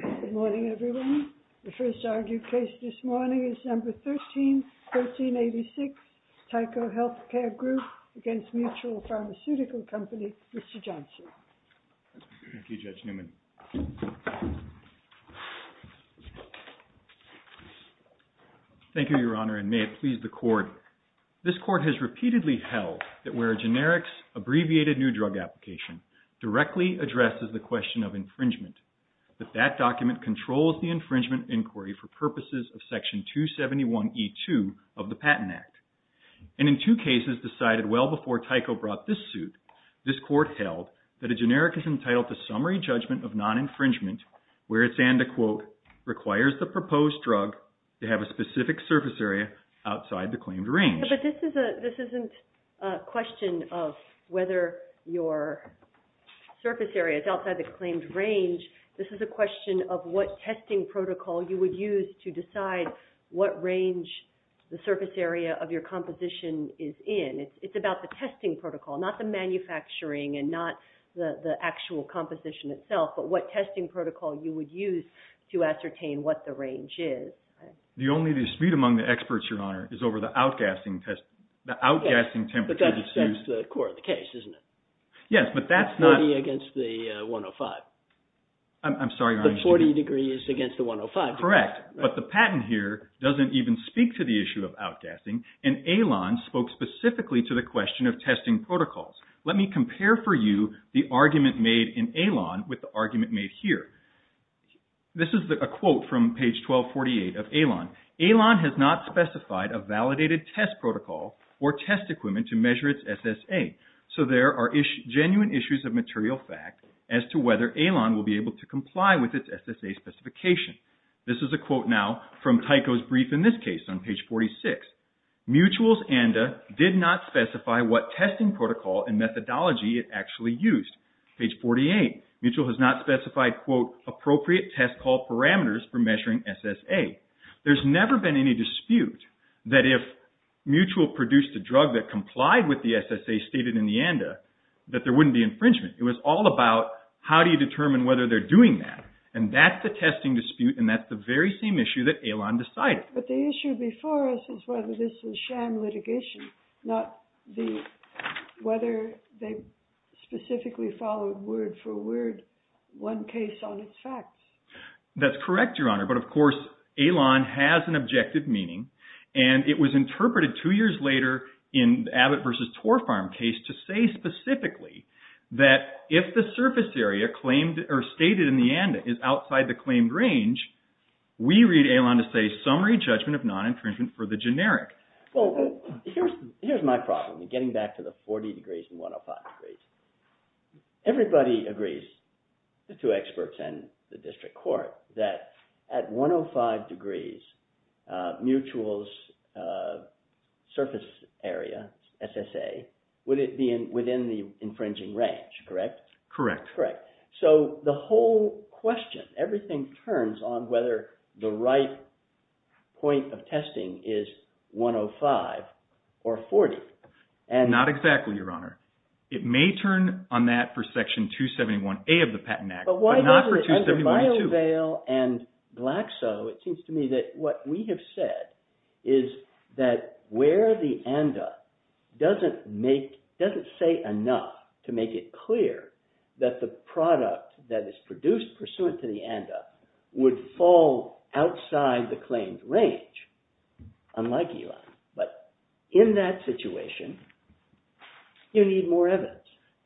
Good morning everyone. The first argued case this morning is number 13-1386, Tyco Healthcare Group against Mutual Pharmaceutical Company, Mr. Johnson. Thank you, Judge Newman. Thank you, Your Honor, and may it please the Court. This Court has repeatedly held that where a generics, abbreviated new drug application, directly addresses the question of infringement, that that document controls the infringement inquiry for purposes of Section 271E2 of the Patent Act. And in two cases decided well before Tyco brought this suit, this Court held that a generic is entitled to summary judgment of non-infringement where it's and a quote, requires the proposed drug to have a specific surface area outside the claimed range. But this isn't a question of whether your surface area is outside the claimed range. This is a question of what testing protocol you would use to decide what range the surface area of your composition is in. It's about the testing protocol, not the manufacturing and not the actual composition itself, but what testing protocol you would use to ascertain what the range is. The only dispute among the experts, Your Honor, is over the outgassing test, the outgassing temperature that's used. Yes, but that's the core of the case, isn't it? Yes, but that's not. It's 40 against the 105. I'm sorry, Your Honor. The 40 degree is against the 105 degree. Correct, but the patent here doesn't even speak to the issue of outgassing and ALON spoke specifically to the question of testing protocols. Let me compare for you the argument made in ALON with the argument made here. This is a quote from page 1248 of ALON. ALON has not specified a validated test protocol or test equipment to measure its SSA. So there are genuine issues of material fact as to whether ALON will be able to comply with its SSA specification. This is a quote now from Tyco's brief in this case on page 46. Mutual's ANDA did not specify what testing protocol and methodology it actually used. Page 48, Mutual has not specified, quote, appropriate test call parameters for measuring SSA. There's never been any dispute that if Mutual produced a drug that complied with the SSA stated in the ANDA that there wouldn't be infringement. It was all about how do you determine whether they're doing that. And that's the testing dispute and that's the very same issue that ALON decided. But the issue before us is whether this is sham litigation, not whether they specifically followed word for word one case on its facts. That's correct, Your Honor. But, of course, ALON has an objective meaning. And it was interpreted two years later in Abbott v. Torfarm case to say specifically that if the surface area claimed or stated in the ANDA is outside the claimed range, we read ALON to say summary judgment of non-infringement for the generic. Well, here's my problem in getting back to the 40 degrees and 105 degrees. Everybody agrees, the two experts and the district court, that at 105 degrees Mutual's surface area, SSA, would it be within the infringing range, correct? Correct. So the whole question, everything turns on whether the right point of testing is 105 or 40. Not exactly, Your Honor. It may turn on that for Section 271A of the Patent Act, but not for 271A2. And Glaxo, it seems to me that what we have said is that where the ANDA doesn't make – doesn't say enough to make it clear that the product that is produced pursuant to the ANDA would fall outside the claimed range, unlike ALON. But in that situation, you need more evidence.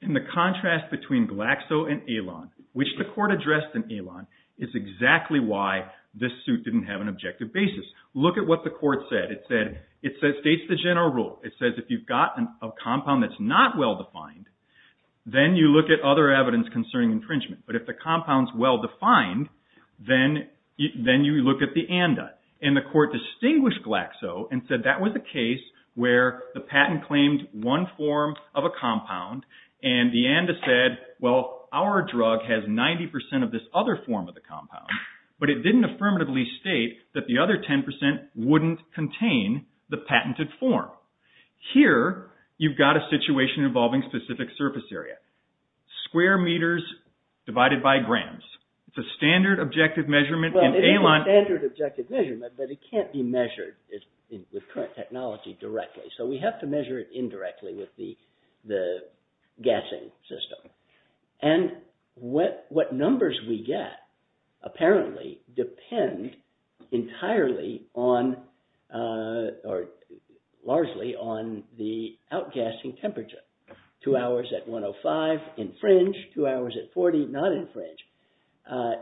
And the contrast between Glaxo and ALON, which the court addressed in ALON, is exactly why this suit didn't have an objective basis. Look at what the court said. It states the general rule. It says if you've got a compound that's not well-defined, then you look at other evidence concerning infringement. But if the compound's well-defined, then you look at the ANDA. And the court distinguished Glaxo and said that was a case where the patent claimed one form of a compound. And the ANDA said, well, our drug has 90 percent of this other form of the compound. But it didn't affirmatively state that the other 10 percent wouldn't contain the patented form. Here, you've got a situation involving specific surface area. Square meters divided by grams. It's a standard objective measurement in ALON. It's a standard objective measurement, but it can't be measured with current technology directly. So we have to measure it indirectly with the gassing system. And what numbers we get apparently depend entirely on or largely on the outgassing temperature. Two hours at 105, infringe. Two hours at 40, not infringe.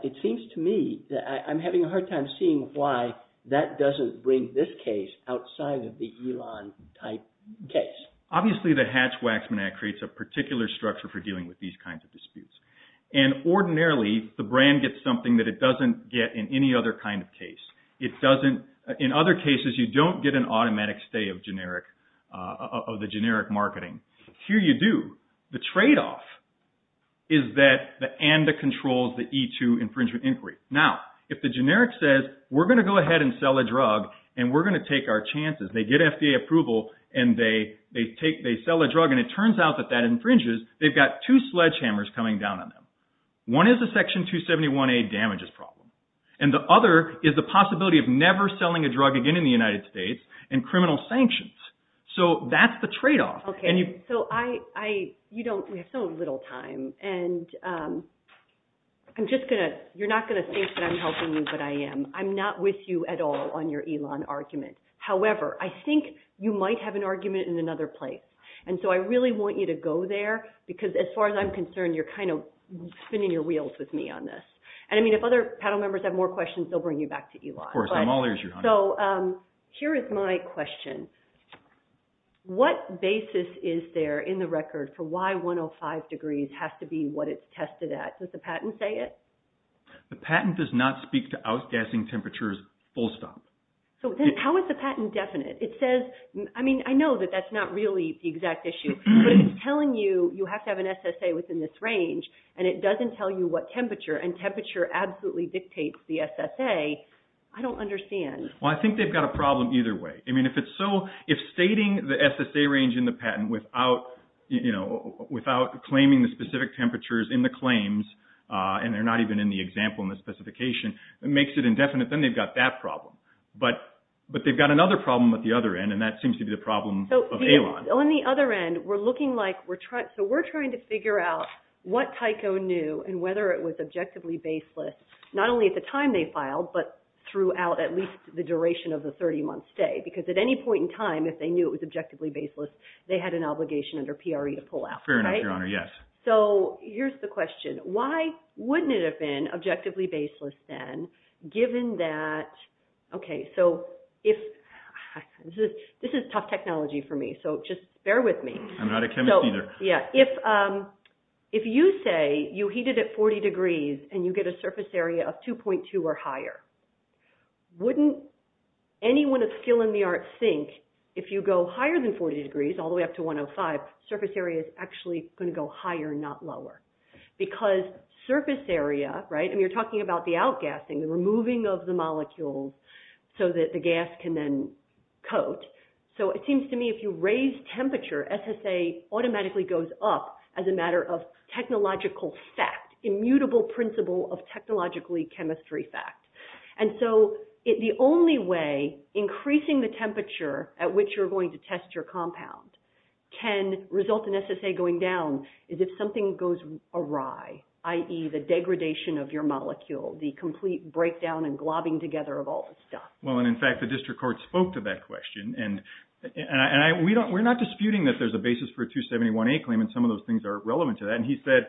It seems to me that I'm having a hard time seeing why that doesn't bring this case outside of the ALON type case. Obviously, the Hatch-Waxman Act creates a particular structure for dealing with these kinds of disputes. And ordinarily, the brand gets something that it doesn't get in any other kind of case. In other cases, you don't get an automatic stay of the generic marketing. Here you do. The tradeoff is that the ANDA controls the E2 infringement inquiry. Now, if the generic says, we're going to go ahead and sell a drug, and we're going to take our chances. They get FDA approval, and they sell a drug, and it turns out that that infringes, they've got two sledgehammers coming down on them. One is the Section 271A damages problem. And the other is the possibility of never selling a drug again in the United States and criminal sanctions. So that's the tradeoff. Okay. So we have so little time. And you're not going to think that I'm helping you, but I am. I'm not with you at all on your ELON argument. However, I think you might have an argument in another place. And so I really want you to go there, because as far as I'm concerned, you're kind of spinning your wheels with me on this. And, I mean, if other panel members have more questions, they'll bring you back to ELON. Of course. I'm all ears, Your Honor. So here is my question. What basis is there in the record for why 105 degrees has to be what it's tested at? Does the patent say it? The patent does not speak to outgassing temperatures full stop. So how is the patent definite? It says, I mean, I know that that's not really the exact issue, but it's telling you you have to have an SSA within this range, and it doesn't tell you what temperature, and temperature absolutely dictates the SSA. I don't understand. Well, I think they've got a problem either way. I mean, if stating the SSA range in the patent without claiming the specific temperatures in the claims, and they're not even in the example in the specification, makes it indefinite, then they've got that problem. But they've got another problem at the other end, and that seems to be the problem of ELON. So on the other end, we're looking like we're trying to figure out what Tyco knew and whether it was objectively baseless, not only at the time they filed, but throughout at least the duration of the 30-month stay, because at any point in time, if they knew it was objectively baseless, they had an obligation under PRE to pull out. Fair enough, Your Honor, yes. So here's the question. Why wouldn't it have been objectively baseless then, given that – okay, so if – this is tough technology for me, so just bear with me. I'm not a chemist either. Yeah, if you say you heat it at 40 degrees and you get a surface area of 2.2 or higher, wouldn't anyone of skill in the arts think if you go higher than 40 degrees, all the way up to 105, surface area is actually going to go higher, not lower? Because surface area – right? I mean, you're talking about the outgassing, the removing of the molecules so that the gas can then coat. So it seems to me if you raise temperature, SSA automatically goes up as a matter of technological fact, immutable principle of technologically chemistry fact. And so the only way increasing the temperature at which you're going to test your compound can result in SSA going down is if something goes awry, i.e. the degradation of your molecule, the complete breakdown and globbing together of all this stuff. Well, and in fact, the district court spoke to that question. And we're not disputing that there's a basis for a 271A claim and some of those things are relevant to that. And he said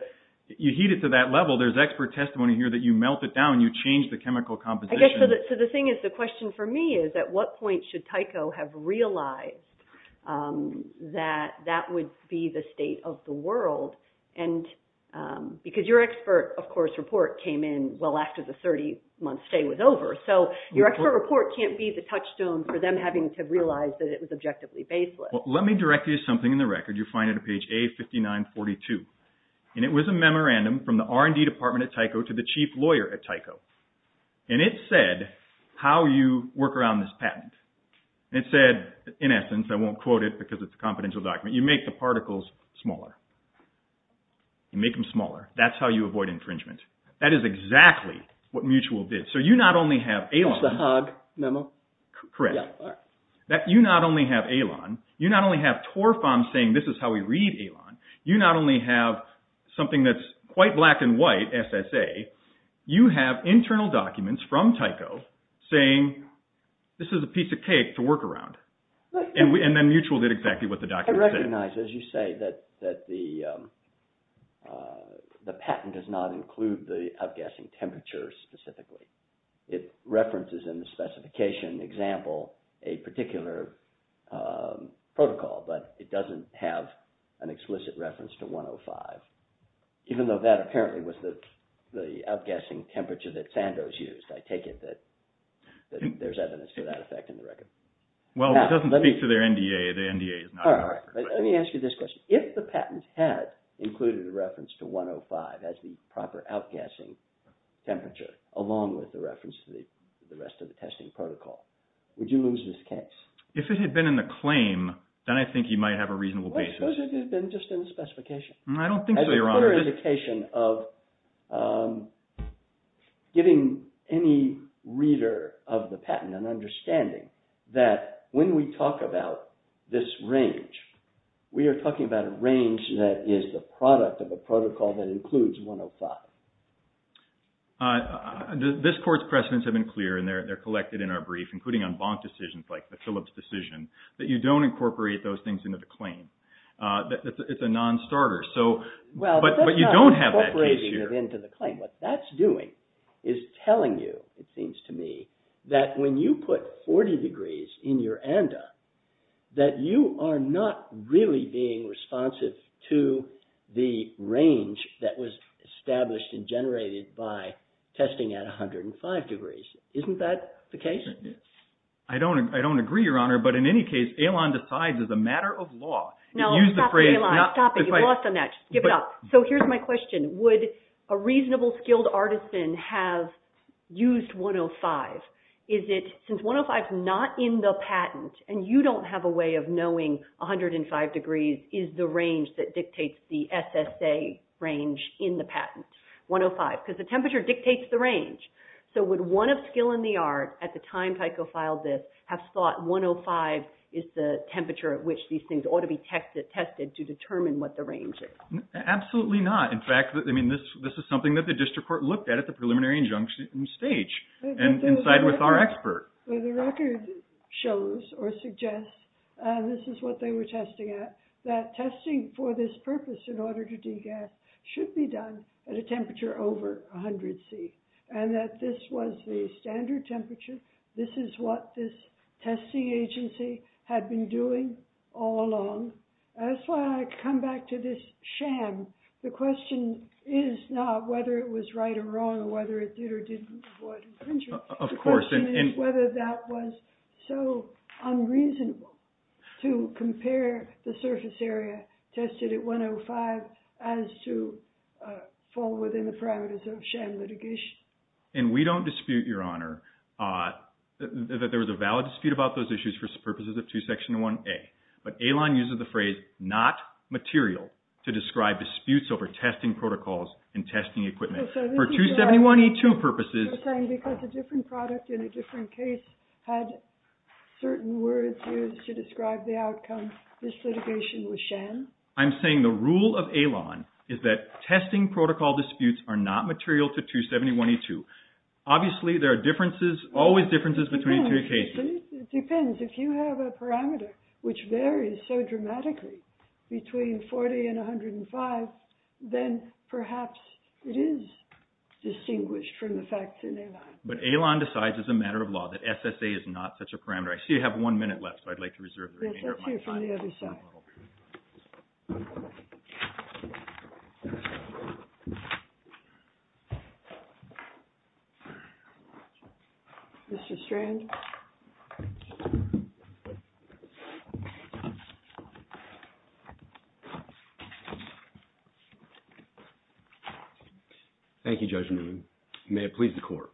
you heat it to that level. There's expert testimony here that you melt it down. You change the chemical composition. So the thing is, the question for me is at what point should Tyco have realized that that would be the state of the world? And because your expert, of course, report came in well after the 30-month stay was over. So your expert report can't be the touchstone for them having to realize that it was objectively baseless. Well, let me direct you to something in the record. You'll find it on page A5942. And it was a memorandum from the R&D department at Tyco to the chief lawyer at Tyco. And it said how you work around this patent. And it said, in essence, I won't quote it because it's a confidential document, you make the particles smaller. You make them smaller. That's how you avoid infringement. That is exactly what Mutual did. So you not only have AILON. That's the HOG memo? Correct. You not only have AILON. You not only have Torfam saying this is how we read AILON. You not only have something that's quite black and white, SSA. You have internal documents from Tyco saying this is a piece of cake to work around. And then Mutual did exactly what the document said. I recognize, as you say, that the patent does not include the outgassing temperature specifically. It references in the specification example a particular protocol, but it doesn't have an explicit reference to 105. Even though that apparently was the outgassing temperature that Sandoz used. I take it that there's evidence for that effect in the record. Well, it doesn't speak to their NDA. Let me ask you this question. If the patent had included a reference to 105 as the proper outgassing temperature, along with the reference to the rest of the testing protocol, would you lose this case? If it had been in the claim, then I think you might have a reasonable basis. What if it had been just in the specification? I don't think so, Your Honor. It's a clear indication of giving any reader of the patent an understanding that when we talk about this range, we are talking about a range that is the product of a protocol that includes 105. This Court's precedents have been clear, and they're collected in our brief, including on bonk decisions like the Phillips decision, that you don't incorporate those things into the claim. It's a non-starter. But you don't have that case here. What that's doing is telling you, it seems to me, that when you put 40 degrees in your NDA, that you are not really being responsive to the range that was established and generated by testing at 105 degrees. Isn't that the case? I don't agree, Your Honor, but in any case, AILON decides as a matter of law. No, stop it, AILON. Stop it. You've lost on that. Just give it up. So here's my question. Would a reasonable, skilled artisan have used 105? Since 105 is not in the patent, and you don't have a way of knowing 105 degrees is the range that dictates the SSA range in the patent, 105, because the temperature dictates the range. So would one of skill in the art, at the time FICO filed this, have thought 105 is the temperature at which these things ought to be tested to determine what the range is? Absolutely not. In fact, this is something that the district court looked at at the preliminary injunction stage, and inside with our expert. Well, the record shows or suggests, and this is what they were testing at, that testing for this purpose in order to degas should be done at a temperature over 100 C. And that this was the standard temperature. This is what this testing agency had been doing all along. That's why I come back to this sham. The question is not whether it was right or wrong or whether it did or didn't avoid infringement. Of course. The question is whether that was so unreasonable to compare the surface area tested at 105 as to fall within the parameters of sham litigation. And we don't dispute, Your Honor, that there was a valid dispute about those issues for purposes of 2 section 1A. But AILON uses the phrase, not material, to describe disputes over testing protocols and testing equipment. For 271E2 purposes. Because a different product in a different case had certain words used to describe the outcome, this litigation was sham? I'm saying the rule of AILON is that testing protocol disputes are not material to 271E2. Obviously, there are differences, always differences between two cases. It depends. If you have a parameter which varies so dramatically between 40 and 105, then perhaps it is distinguished from the facts in AILON. But AILON decides as a matter of law that SSA is not such a parameter. I see you have one minute left, so I'd like to reserve the remainder of my time. Let's hear from the other side. Mr. Strand? Thank you, Judge Newman. May it please the Court.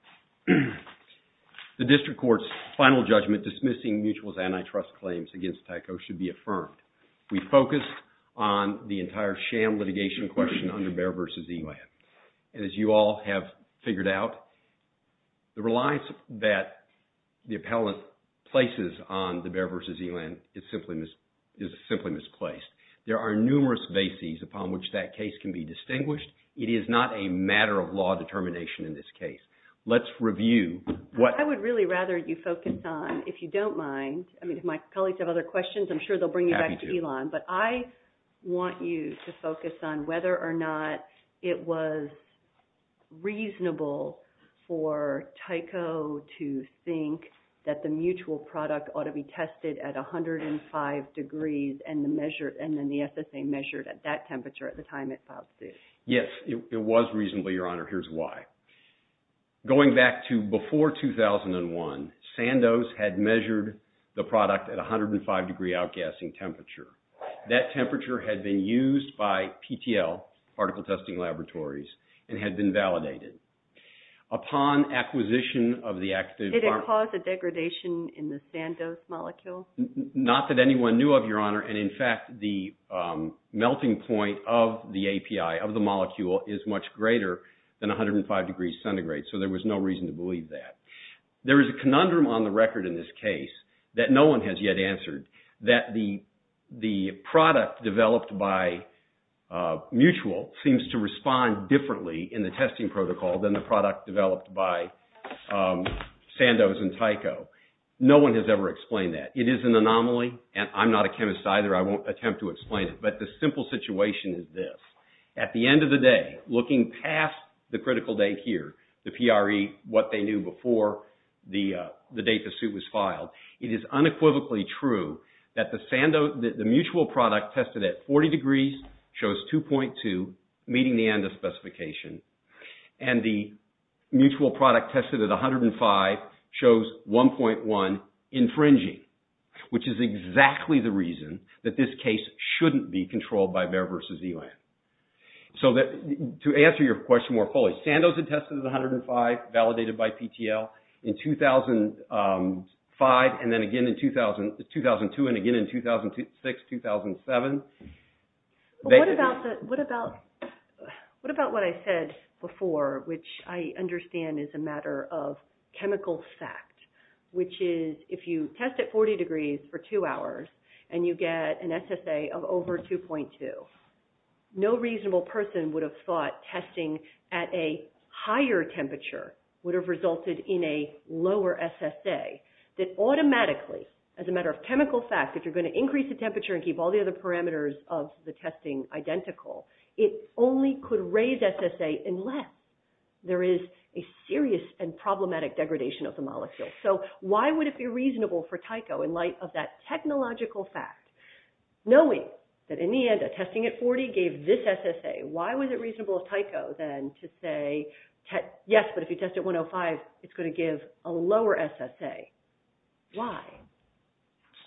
The District Court's final judgment dismissing Mutual's antitrust claims against Tyco should be affirmed. We focused on the entire sham litigation question under BEAR v. ELAN. And as you all have figured out, the reliance that the appellant places on the BEAR v. ELAN is simply misplaced. There are numerous bases upon which that case can be distinguished. It is not a matter of law determination in this case. Let's review what... I would really rather you focus on, if you don't mind, I mean, if my colleagues have other questions, I'm sure they'll bring you back to ELAN. But I want you to focus on whether or not it was reasonable for Tyco to think that the Mutual product ought to be tested at 105 degrees and then the SSA measured at that temperature at the time it filed suit. Yes, it was reasonable, Your Honor. Here's why. Going back to before 2001, Sandos had measured the product at 105 degree outgassing temperature. That temperature had been used by PTL, Particle Testing Laboratories, and had been validated. Upon acquisition of the active... Did it cause a degradation in the Sandos molecule? Not that anyone knew of, Your Honor. And, in fact, the melting point of the API, of the molecule, is much greater than 105 degrees centigrade. So there was no reason to believe that. There is a conundrum on the record in this case that no one has yet answered, that the product developed by Mutual seems to respond differently in the testing protocol than the product developed by Sandos and Tyco. No one has ever explained that. It is an anomaly, and I'm not a chemist either. I won't attempt to explain it, but the simple situation is this. At the end of the day, looking past the critical date here, the PRE, what they knew before the date the suit was filed, it is unequivocally true that the Mutual product tested at 40 degrees shows 2.2, meeting the ANDA specification, and the Mutual product tested at 105 shows 1.1, infringing, which is exactly the reason that this case shouldn't be controlled by Bayer v. Elam. So to answer your question more fully, Sandos had tested at 105, validated by PTL, in 2005, and then again in 2002, and again in 2006, 2007. What about what I said before, which I understand is a matter of chemical fact, which is if you test at 40 degrees for two hours and you get an SSA of over 2.2, no reasonable person would have thought testing at a higher temperature would have resulted in a lower SSA. That automatically, as a matter of chemical fact, if you're going to increase the temperature and keep all the other parameters of the testing identical, it only could raise SSA unless there is a serious and problematic degradation of the molecule. So why would it be reasonable for Tyco, in light of that technological fact, knowing that in the end, testing at 40 gave this SSA, why was it reasonable of Tyco then to say, yes, but if you test at 105, it's going to give a lower SSA? Why?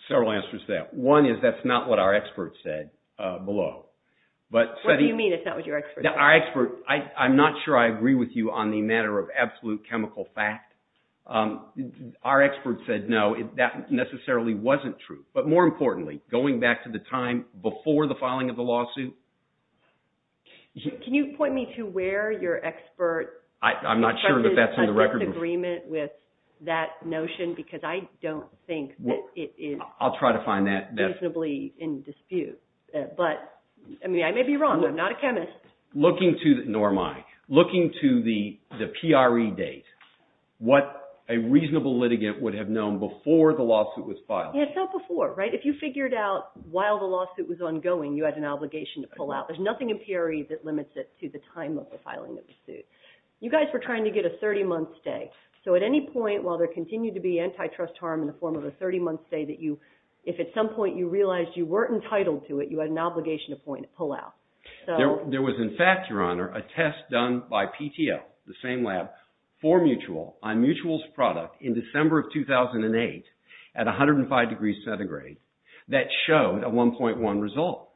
Several answers to that. One is that's not what our experts said below. What do you mean it's not what your experts said? I'm not sure I agree with you on the matter of absolute chemical fact. Our experts said no, that necessarily wasn't true. But more importantly, going back to the time before the filing of the lawsuit. Can you point me to where your experts... I'm not sure that that's in the record. ...agreement with that notion because I don't think that it is... I'll try to find that. ...reasonably in dispute. But, I mean, I may be wrong. I'm not a chemist. Norma, looking to the PRE date, what a reasonable litigant would have known before the lawsuit was filed? Yeah, it's not before, right? If you figured out while the lawsuit was ongoing, you had an obligation to pull out. There's nothing in PRE that limits it to the time of the filing of the suit. You guys were trying to get a 30-month stay. So at any point, while there continued to be antitrust harm in the form of a 30-month stay, if at some point you realized you weren't entitled to it, you had an obligation to pull out. There was, in fact, Your Honor, a test done by PTO, the same lab, for Mutual on Mutual's product in December of 2008 at 105 degrees centigrade, that showed a 1.1 result.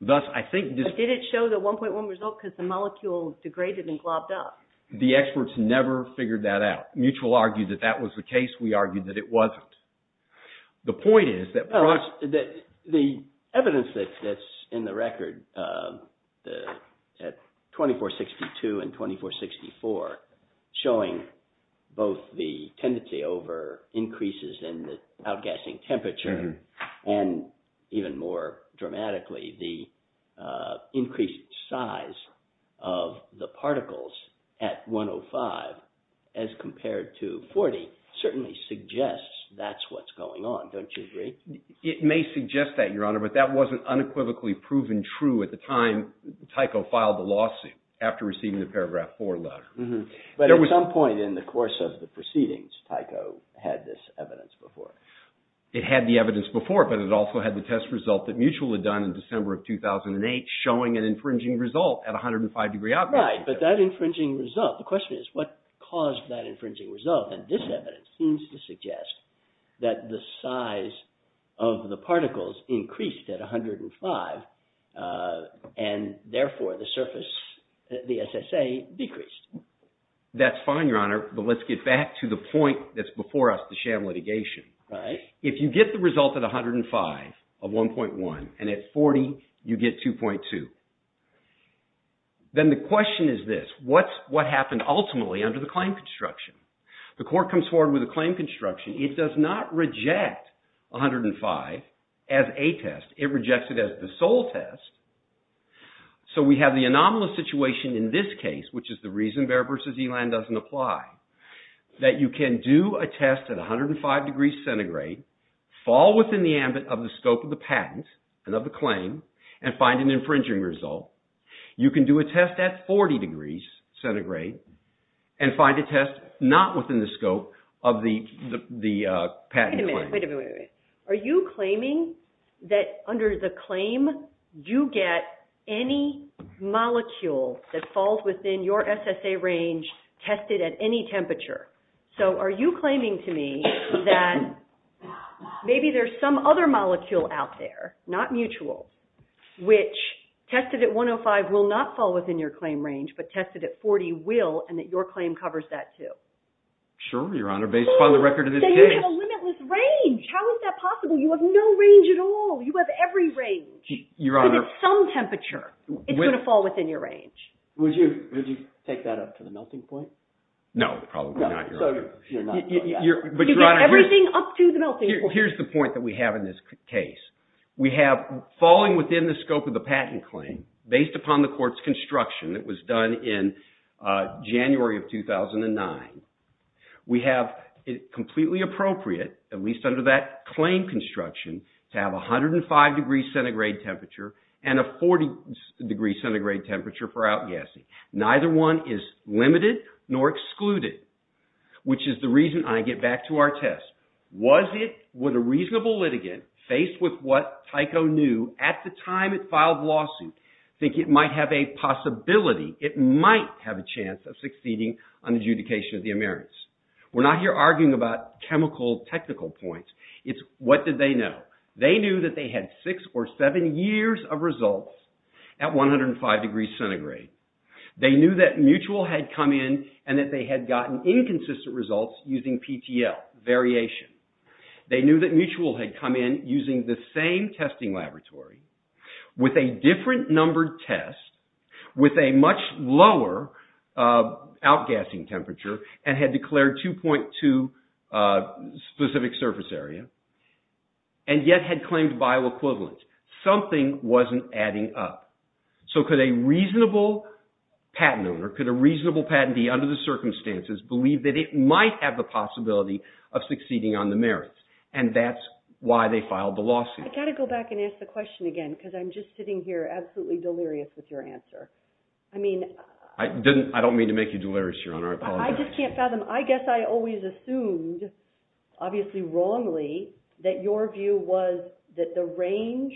Thus, I think... But did it show the 1.1 result because the molecule degraded and globbed up? The experts never figured that out. Mutual argued that that was the case. We argued that it wasn't. The point is that... The evidence that's in the record at 2462 and 2464 showing both the tendency over increases in the outgassing temperature and, even more dramatically, the increased size of the particles at 105 as compared to 40, certainly suggests that's what's going on. Don't you agree? It may suggest that, Your Honor, but that wasn't unequivocally proven true at the time Tycho filed the lawsuit, after receiving the paragraph 4 letter. But at some point in the course of the proceedings, Tycho had this evidence before. It had the evidence before, but it also had the test result that Mutual had done in December of 2008 showing an infringing result at 105 degrees outgassing temperature. Right, but that infringing result, the question is, what caused that infringing result? And this evidence seems to suggest that the size of the particles increased at 105 and, therefore, the surface, the SSA, decreased. That's fine, Your Honor, but let's get back to the point that's before us, the sham litigation. If you get the result at 105 of 1.1 and at 40 you get 2.2, then the question is this. What happened ultimately under the claim construction? The court comes forward with a claim construction. It does not reject 105 as a test. It rejects it as the sole test. So we have the anomalous situation in this case, which is the reason Behr v. Elan doesn't apply, that you can do a test at 105 degrees centigrade, fall within the ambit of the scope of the patent and of the claim, and find an infringing result. You can do a test at 40 degrees centigrade and find a test not within the scope of the patent claim. Wait a minute, wait a minute, wait a minute. Are you claiming that under the claim you get any molecule that falls within your SSA range tested at any temperature? So are you claiming to me that maybe there's some other molecule out there, not mutual, which tested at 105 will not fall within your claim range, but tested at 40 will, and that your claim covers that too? Sure, Your Honor, based upon the record of this case. But then you have a limitless range. How is that possible? You have no range at all. You have every range. Your Honor. If it's some temperature, it's going to fall within your range. Would you take that up to the melting point? No, probably not, Your Honor. So you're not. But Your Honor, here's the point that we have in this case. We have falling within the scope of the patent claim based upon the court's construction. It was done in January of 2009. We have it completely appropriate, at least under that claim construction, to have 105 degrees centigrade temperature and a 40 degrees centigrade temperature for outgassing. Neither one is limited nor excluded, which is the reason I get back to our test. Was it, would a reasonable litigant, faced with what Tycho knew at the time it filed the lawsuit, think it might have a possibility, it might have a chance of succeeding on adjudication of the emerits? We're not here arguing about chemical technical points. It's what did they know. They knew that they had six or seven years of results at 105 degrees centigrade. They knew that Mutual had come in and that they had gotten inconsistent results using PTL, variation. They knew that Mutual had come in using the same testing laboratory with a different numbered test with a much lower outgassing temperature and had declared 2.2 specific surface area and yet had claimed bioequivalent. Something wasn't adding up. So could a reasonable patent owner, could a reasonable patentee under the circumstances believe that it might have the possibility of succeeding on the merits? And that's why they filed the lawsuit. I've got to go back and ask the question again because I'm just sitting here absolutely delirious with your answer. I don't mean to make you delirious, Your Honor, I apologize. I just can't fathom, I guess I always assumed, obviously wrongly, that your view was that the range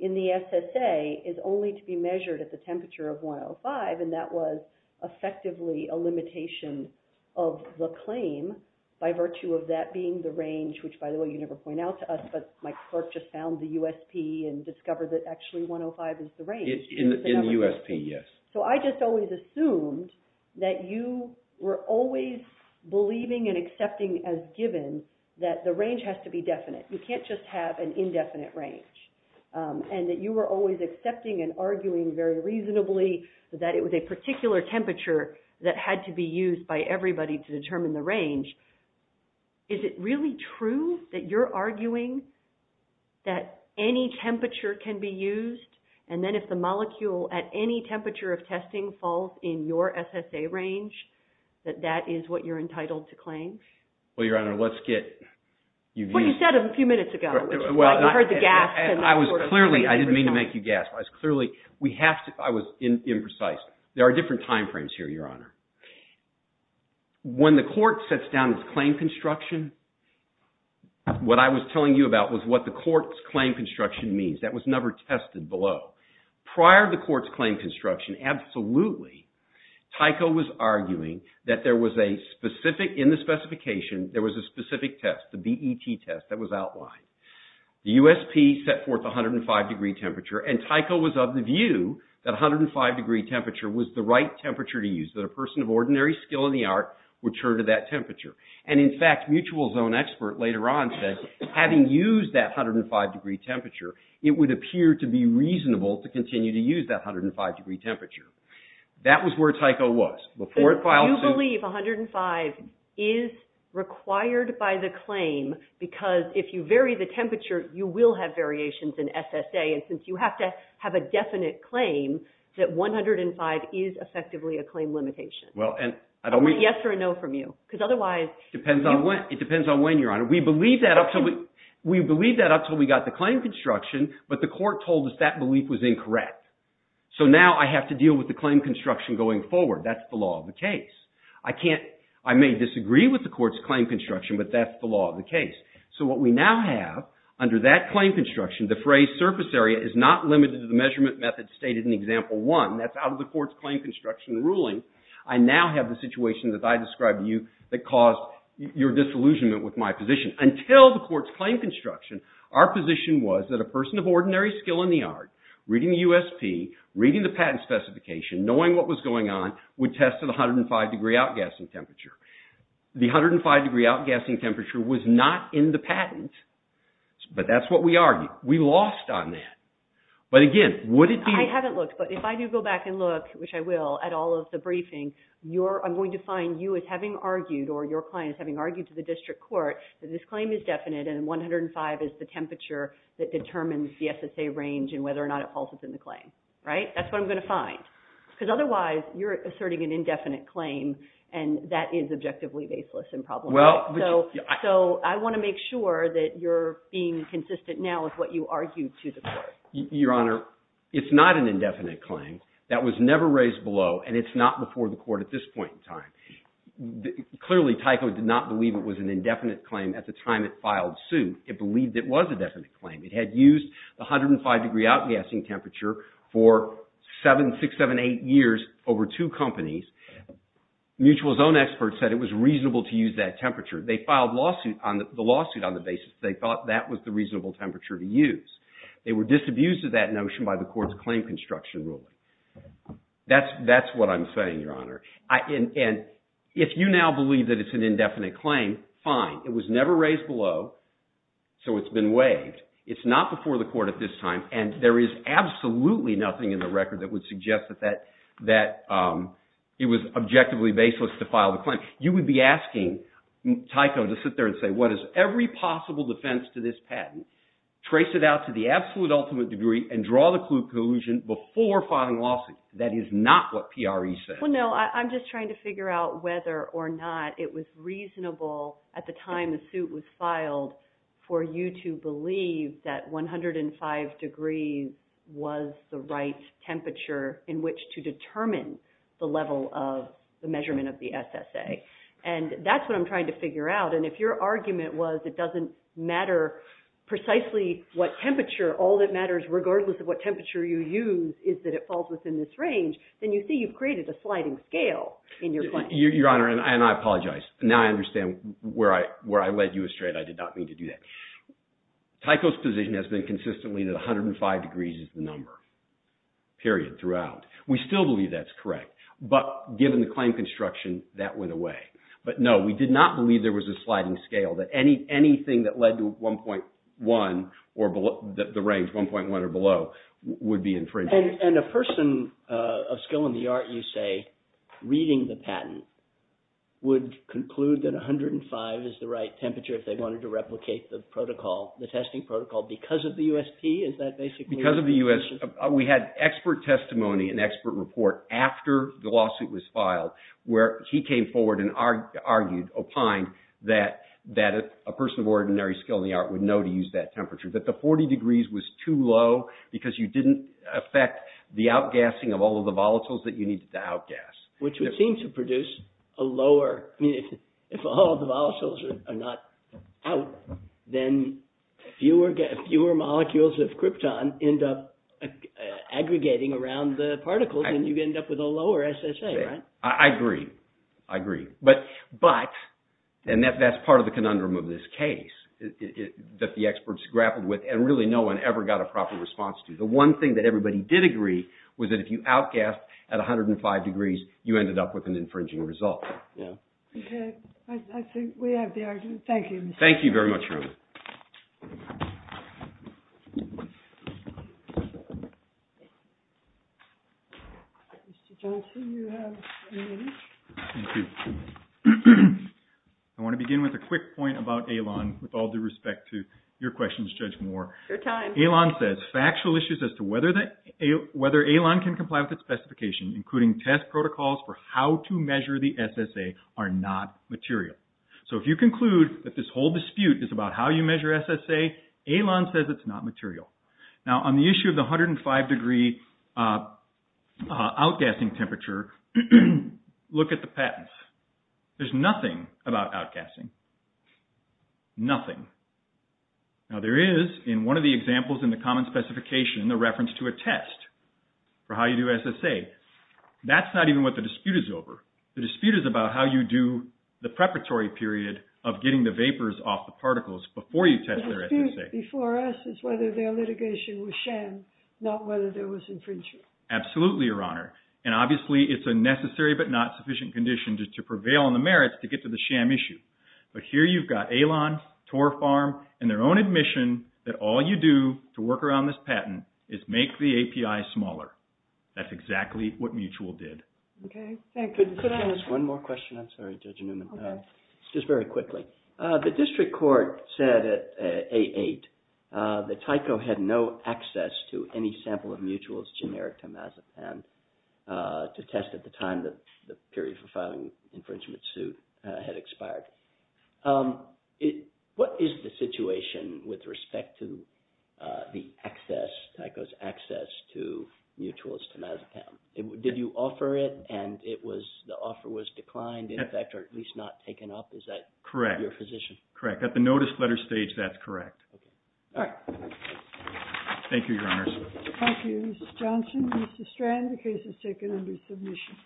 in the SSA is only to be measured at the temperature of 105 and that was effectively a limitation of the claim by virtue of that being the range, which by the way you never point out to us, but my clerk just found the USP and discovered that actually 105 is the range. In the USP, yes. So I just always assumed that you were always believing and accepting as given that the range has to be definite. You can't just have an indefinite range. And that you were always accepting and arguing very reasonably that it was a particular temperature that had to be used by everybody to determine the range. Is it really true that you're arguing that any temperature can be used and then if the molecule at any temperature of testing falls in your SSA range, that that is what you're entitled to claim? Well, Your Honor, let's get... Well, you said a few minutes ago, you heard the gasp... I was clearly, I didn't mean to make you gasp. I was clearly, we have to, I was imprecise. There are different time frames here, Your Honor. When the court sets down its claim construction, what I was telling you about was what the court's claim construction means. That was never tested below. Prior to the court's claim construction, absolutely, Tyco was arguing that there was a specific, in the specification, there was a specific test, the BET test that was outlined. The USP set forth 105 degree temperature and Tyco was of the view that 105 degree temperature was the right temperature to use, that a person of ordinary skill in the art would turn to that temperature. And in fact, Mutual's own expert later on said, having used that 105 degree temperature, it would appear to be reasonable to continue to use that 105 degree temperature. That was where Tyco was. You believe 105 is required by the claim, because if you vary the temperature, you will have variations in SSA. And since you have to have a definite claim, that 105 is effectively a claim limitation. I want yes or a no from you. Because otherwise... It depends on when, Your Honor. We believed that up until we got the claim construction, but the court told us that belief was incorrect. So now I have to deal with the claim construction going forward. That's the law of the case. I may disagree with the court's claim construction, but that's the law of the case. So what we now have, under that claim construction, the phrase surface area is not limited to the measurement method stated in example one. That's out of the court's claim construction ruling. I now have the situation that I described to you that caused your disillusionment with my position. Until the court's claim construction, our position was that a person of ordinary skill in the art, reading the USP, reading the patent specification, knowing what was going on, would test at 105 degree outgassing temperature. The 105 degree outgassing temperature was not in the patent, but that's what we argued. We lost on that. But again, would it be... I haven't looked, but if I do go back and look, which I will, at all of the briefing, I'm going to find you as having argued, or your client as having argued to the district court, that this claim is definite and 105 is the temperature that determines the SSA range and whether or not it falters in the claim. That's what I'm going to find. Because otherwise, you're asserting an indefinite claim and that is objectively baseless and problematic. So I want to make sure that you're being consistent now with what you argued to the court. Your Honor, it's not an indefinite claim. That was never raised below, and it's not before the court at this point in time. Clearly, Tyco did not believe it was an indefinite claim at the time it filed suit. It believed it was a definite claim. It had used the 105 degree outgassing temperature for seven, six, seven, eight years over two companies. Mutual's own experts said it was reasonable to use that temperature. They filed the lawsuit on the basis that they thought that was the reasonable temperature to use. They were disabused of that notion by the court's claim construction ruling. That's what I'm saying, Your Honor. And if you now believe that it's an indefinite claim, fine. It was never raised below, so it's been waived. It's not before the court at this time, and there is absolutely nothing in the record that would suggest that it was objectively baseless to file the claim. You would be asking Tyco to sit there and say, what is every possible defense to this patent? Trace it out to the absolute ultimate degree and draw the clue of collusion before filing a lawsuit. That is not what PRE said. Well, no, I'm just trying to figure out whether or not it was reasonable at the time the suit was filed for you to believe that 105 degrees was the right temperature in which to determine the level of the measurement of the SSA. And that's what I'm trying to figure out. And if your argument was it doesn't matter precisely what temperature, all that matters, regardless of what temperature you use, is that it falls within this range, then you see you've created a sliding scale in your claim. Your Honor, and I apologize. Now I understand where I led you astray and I did not mean to do that. Tyco's position has been consistently that 105 degrees is the number, period, throughout. We still believe that's correct. But given the claim construction, that went away. But no, we did not believe there was a sliding scale that anything that led to 1.1 or below, the range 1.1 or below, would be infringed on. And a person of skill in the art, you say, reading the patent, would conclude that 105 is the right temperature if they wanted to replicate the protocol, the testing protocol, because of the USP? Is that basically what you're saying? Because of the USP. We had expert testimony and expert report after the lawsuit was filed where he came forward and argued, opined, that a person of ordinary skill in the art would know to use that temperature. That the 40 degrees was too low because you didn't affect the outgassing of all of the volatiles that you needed to outgas. Which would seem to produce a lower, if all the volatiles are not out, then fewer molecules of krypton end up aggregating around the particles and you end up with a lower SSA, right? I agree. I agree. But, and that's part of the conundrum of this case, that the experts grappled with, and really no one ever got a proper response to. The one thing that everybody did agree was that if you outgassed at 105 degrees, you ended up with an infringing result. Yeah. Okay. I think we have the argument. Thank you. Thank you very much, Rona. Mr. Johnson, you have ten minutes. Thank you. I want to begin with a quick point about ALON with all due respect to your questions, Judge Moore. Your time. ALON says, factual issues as to whether ALON can comply with its specification, including test protocols for how to measure the SSA, are not material. So if you conclude that this whole dispute is about how you measure SSA, ALON says it's not material. Now, on the issue of the 105 degree outgassing temperature, look at the patents. There's nothing about outgassing. Nothing. Now, there is, in one of the examples in the common specification, the reference to a test for how you do SSA. That's not even what the dispute is over. The dispute is about how you do the preparatory period of getting the vapors off the particles before you test their SSA. The dispute before us is whether their litigation was sham, not whether there was infringement. Absolutely, Your Honor. And obviously, it's a necessary but not sufficient condition to prevail on the merits to get to the sham issue. But here you've got ALON, Tor Farm, and their own admission that all you do to work around this patent is make the API smaller. That's exactly what Mutual did. Okay, thank you. Could I ask one more question? I'm sorry, Judge Newman. Okay. Just very quickly. The district court said at A8 that Tyco had no access to any sample of Mutual's generic temazepam to test at the time that the period for filing infringement suit had expired. What is the situation with respect to the access, Tyco's access to Mutual's temazepam? Did you offer it and the offer was declined in effect or at least not taken up? Is that your position? Correct. At the notice letter stage, that's correct. All right. Thank you, Your Honor. Thank you, Mr. Johnson. Mr. Strand, the case is taken under submission.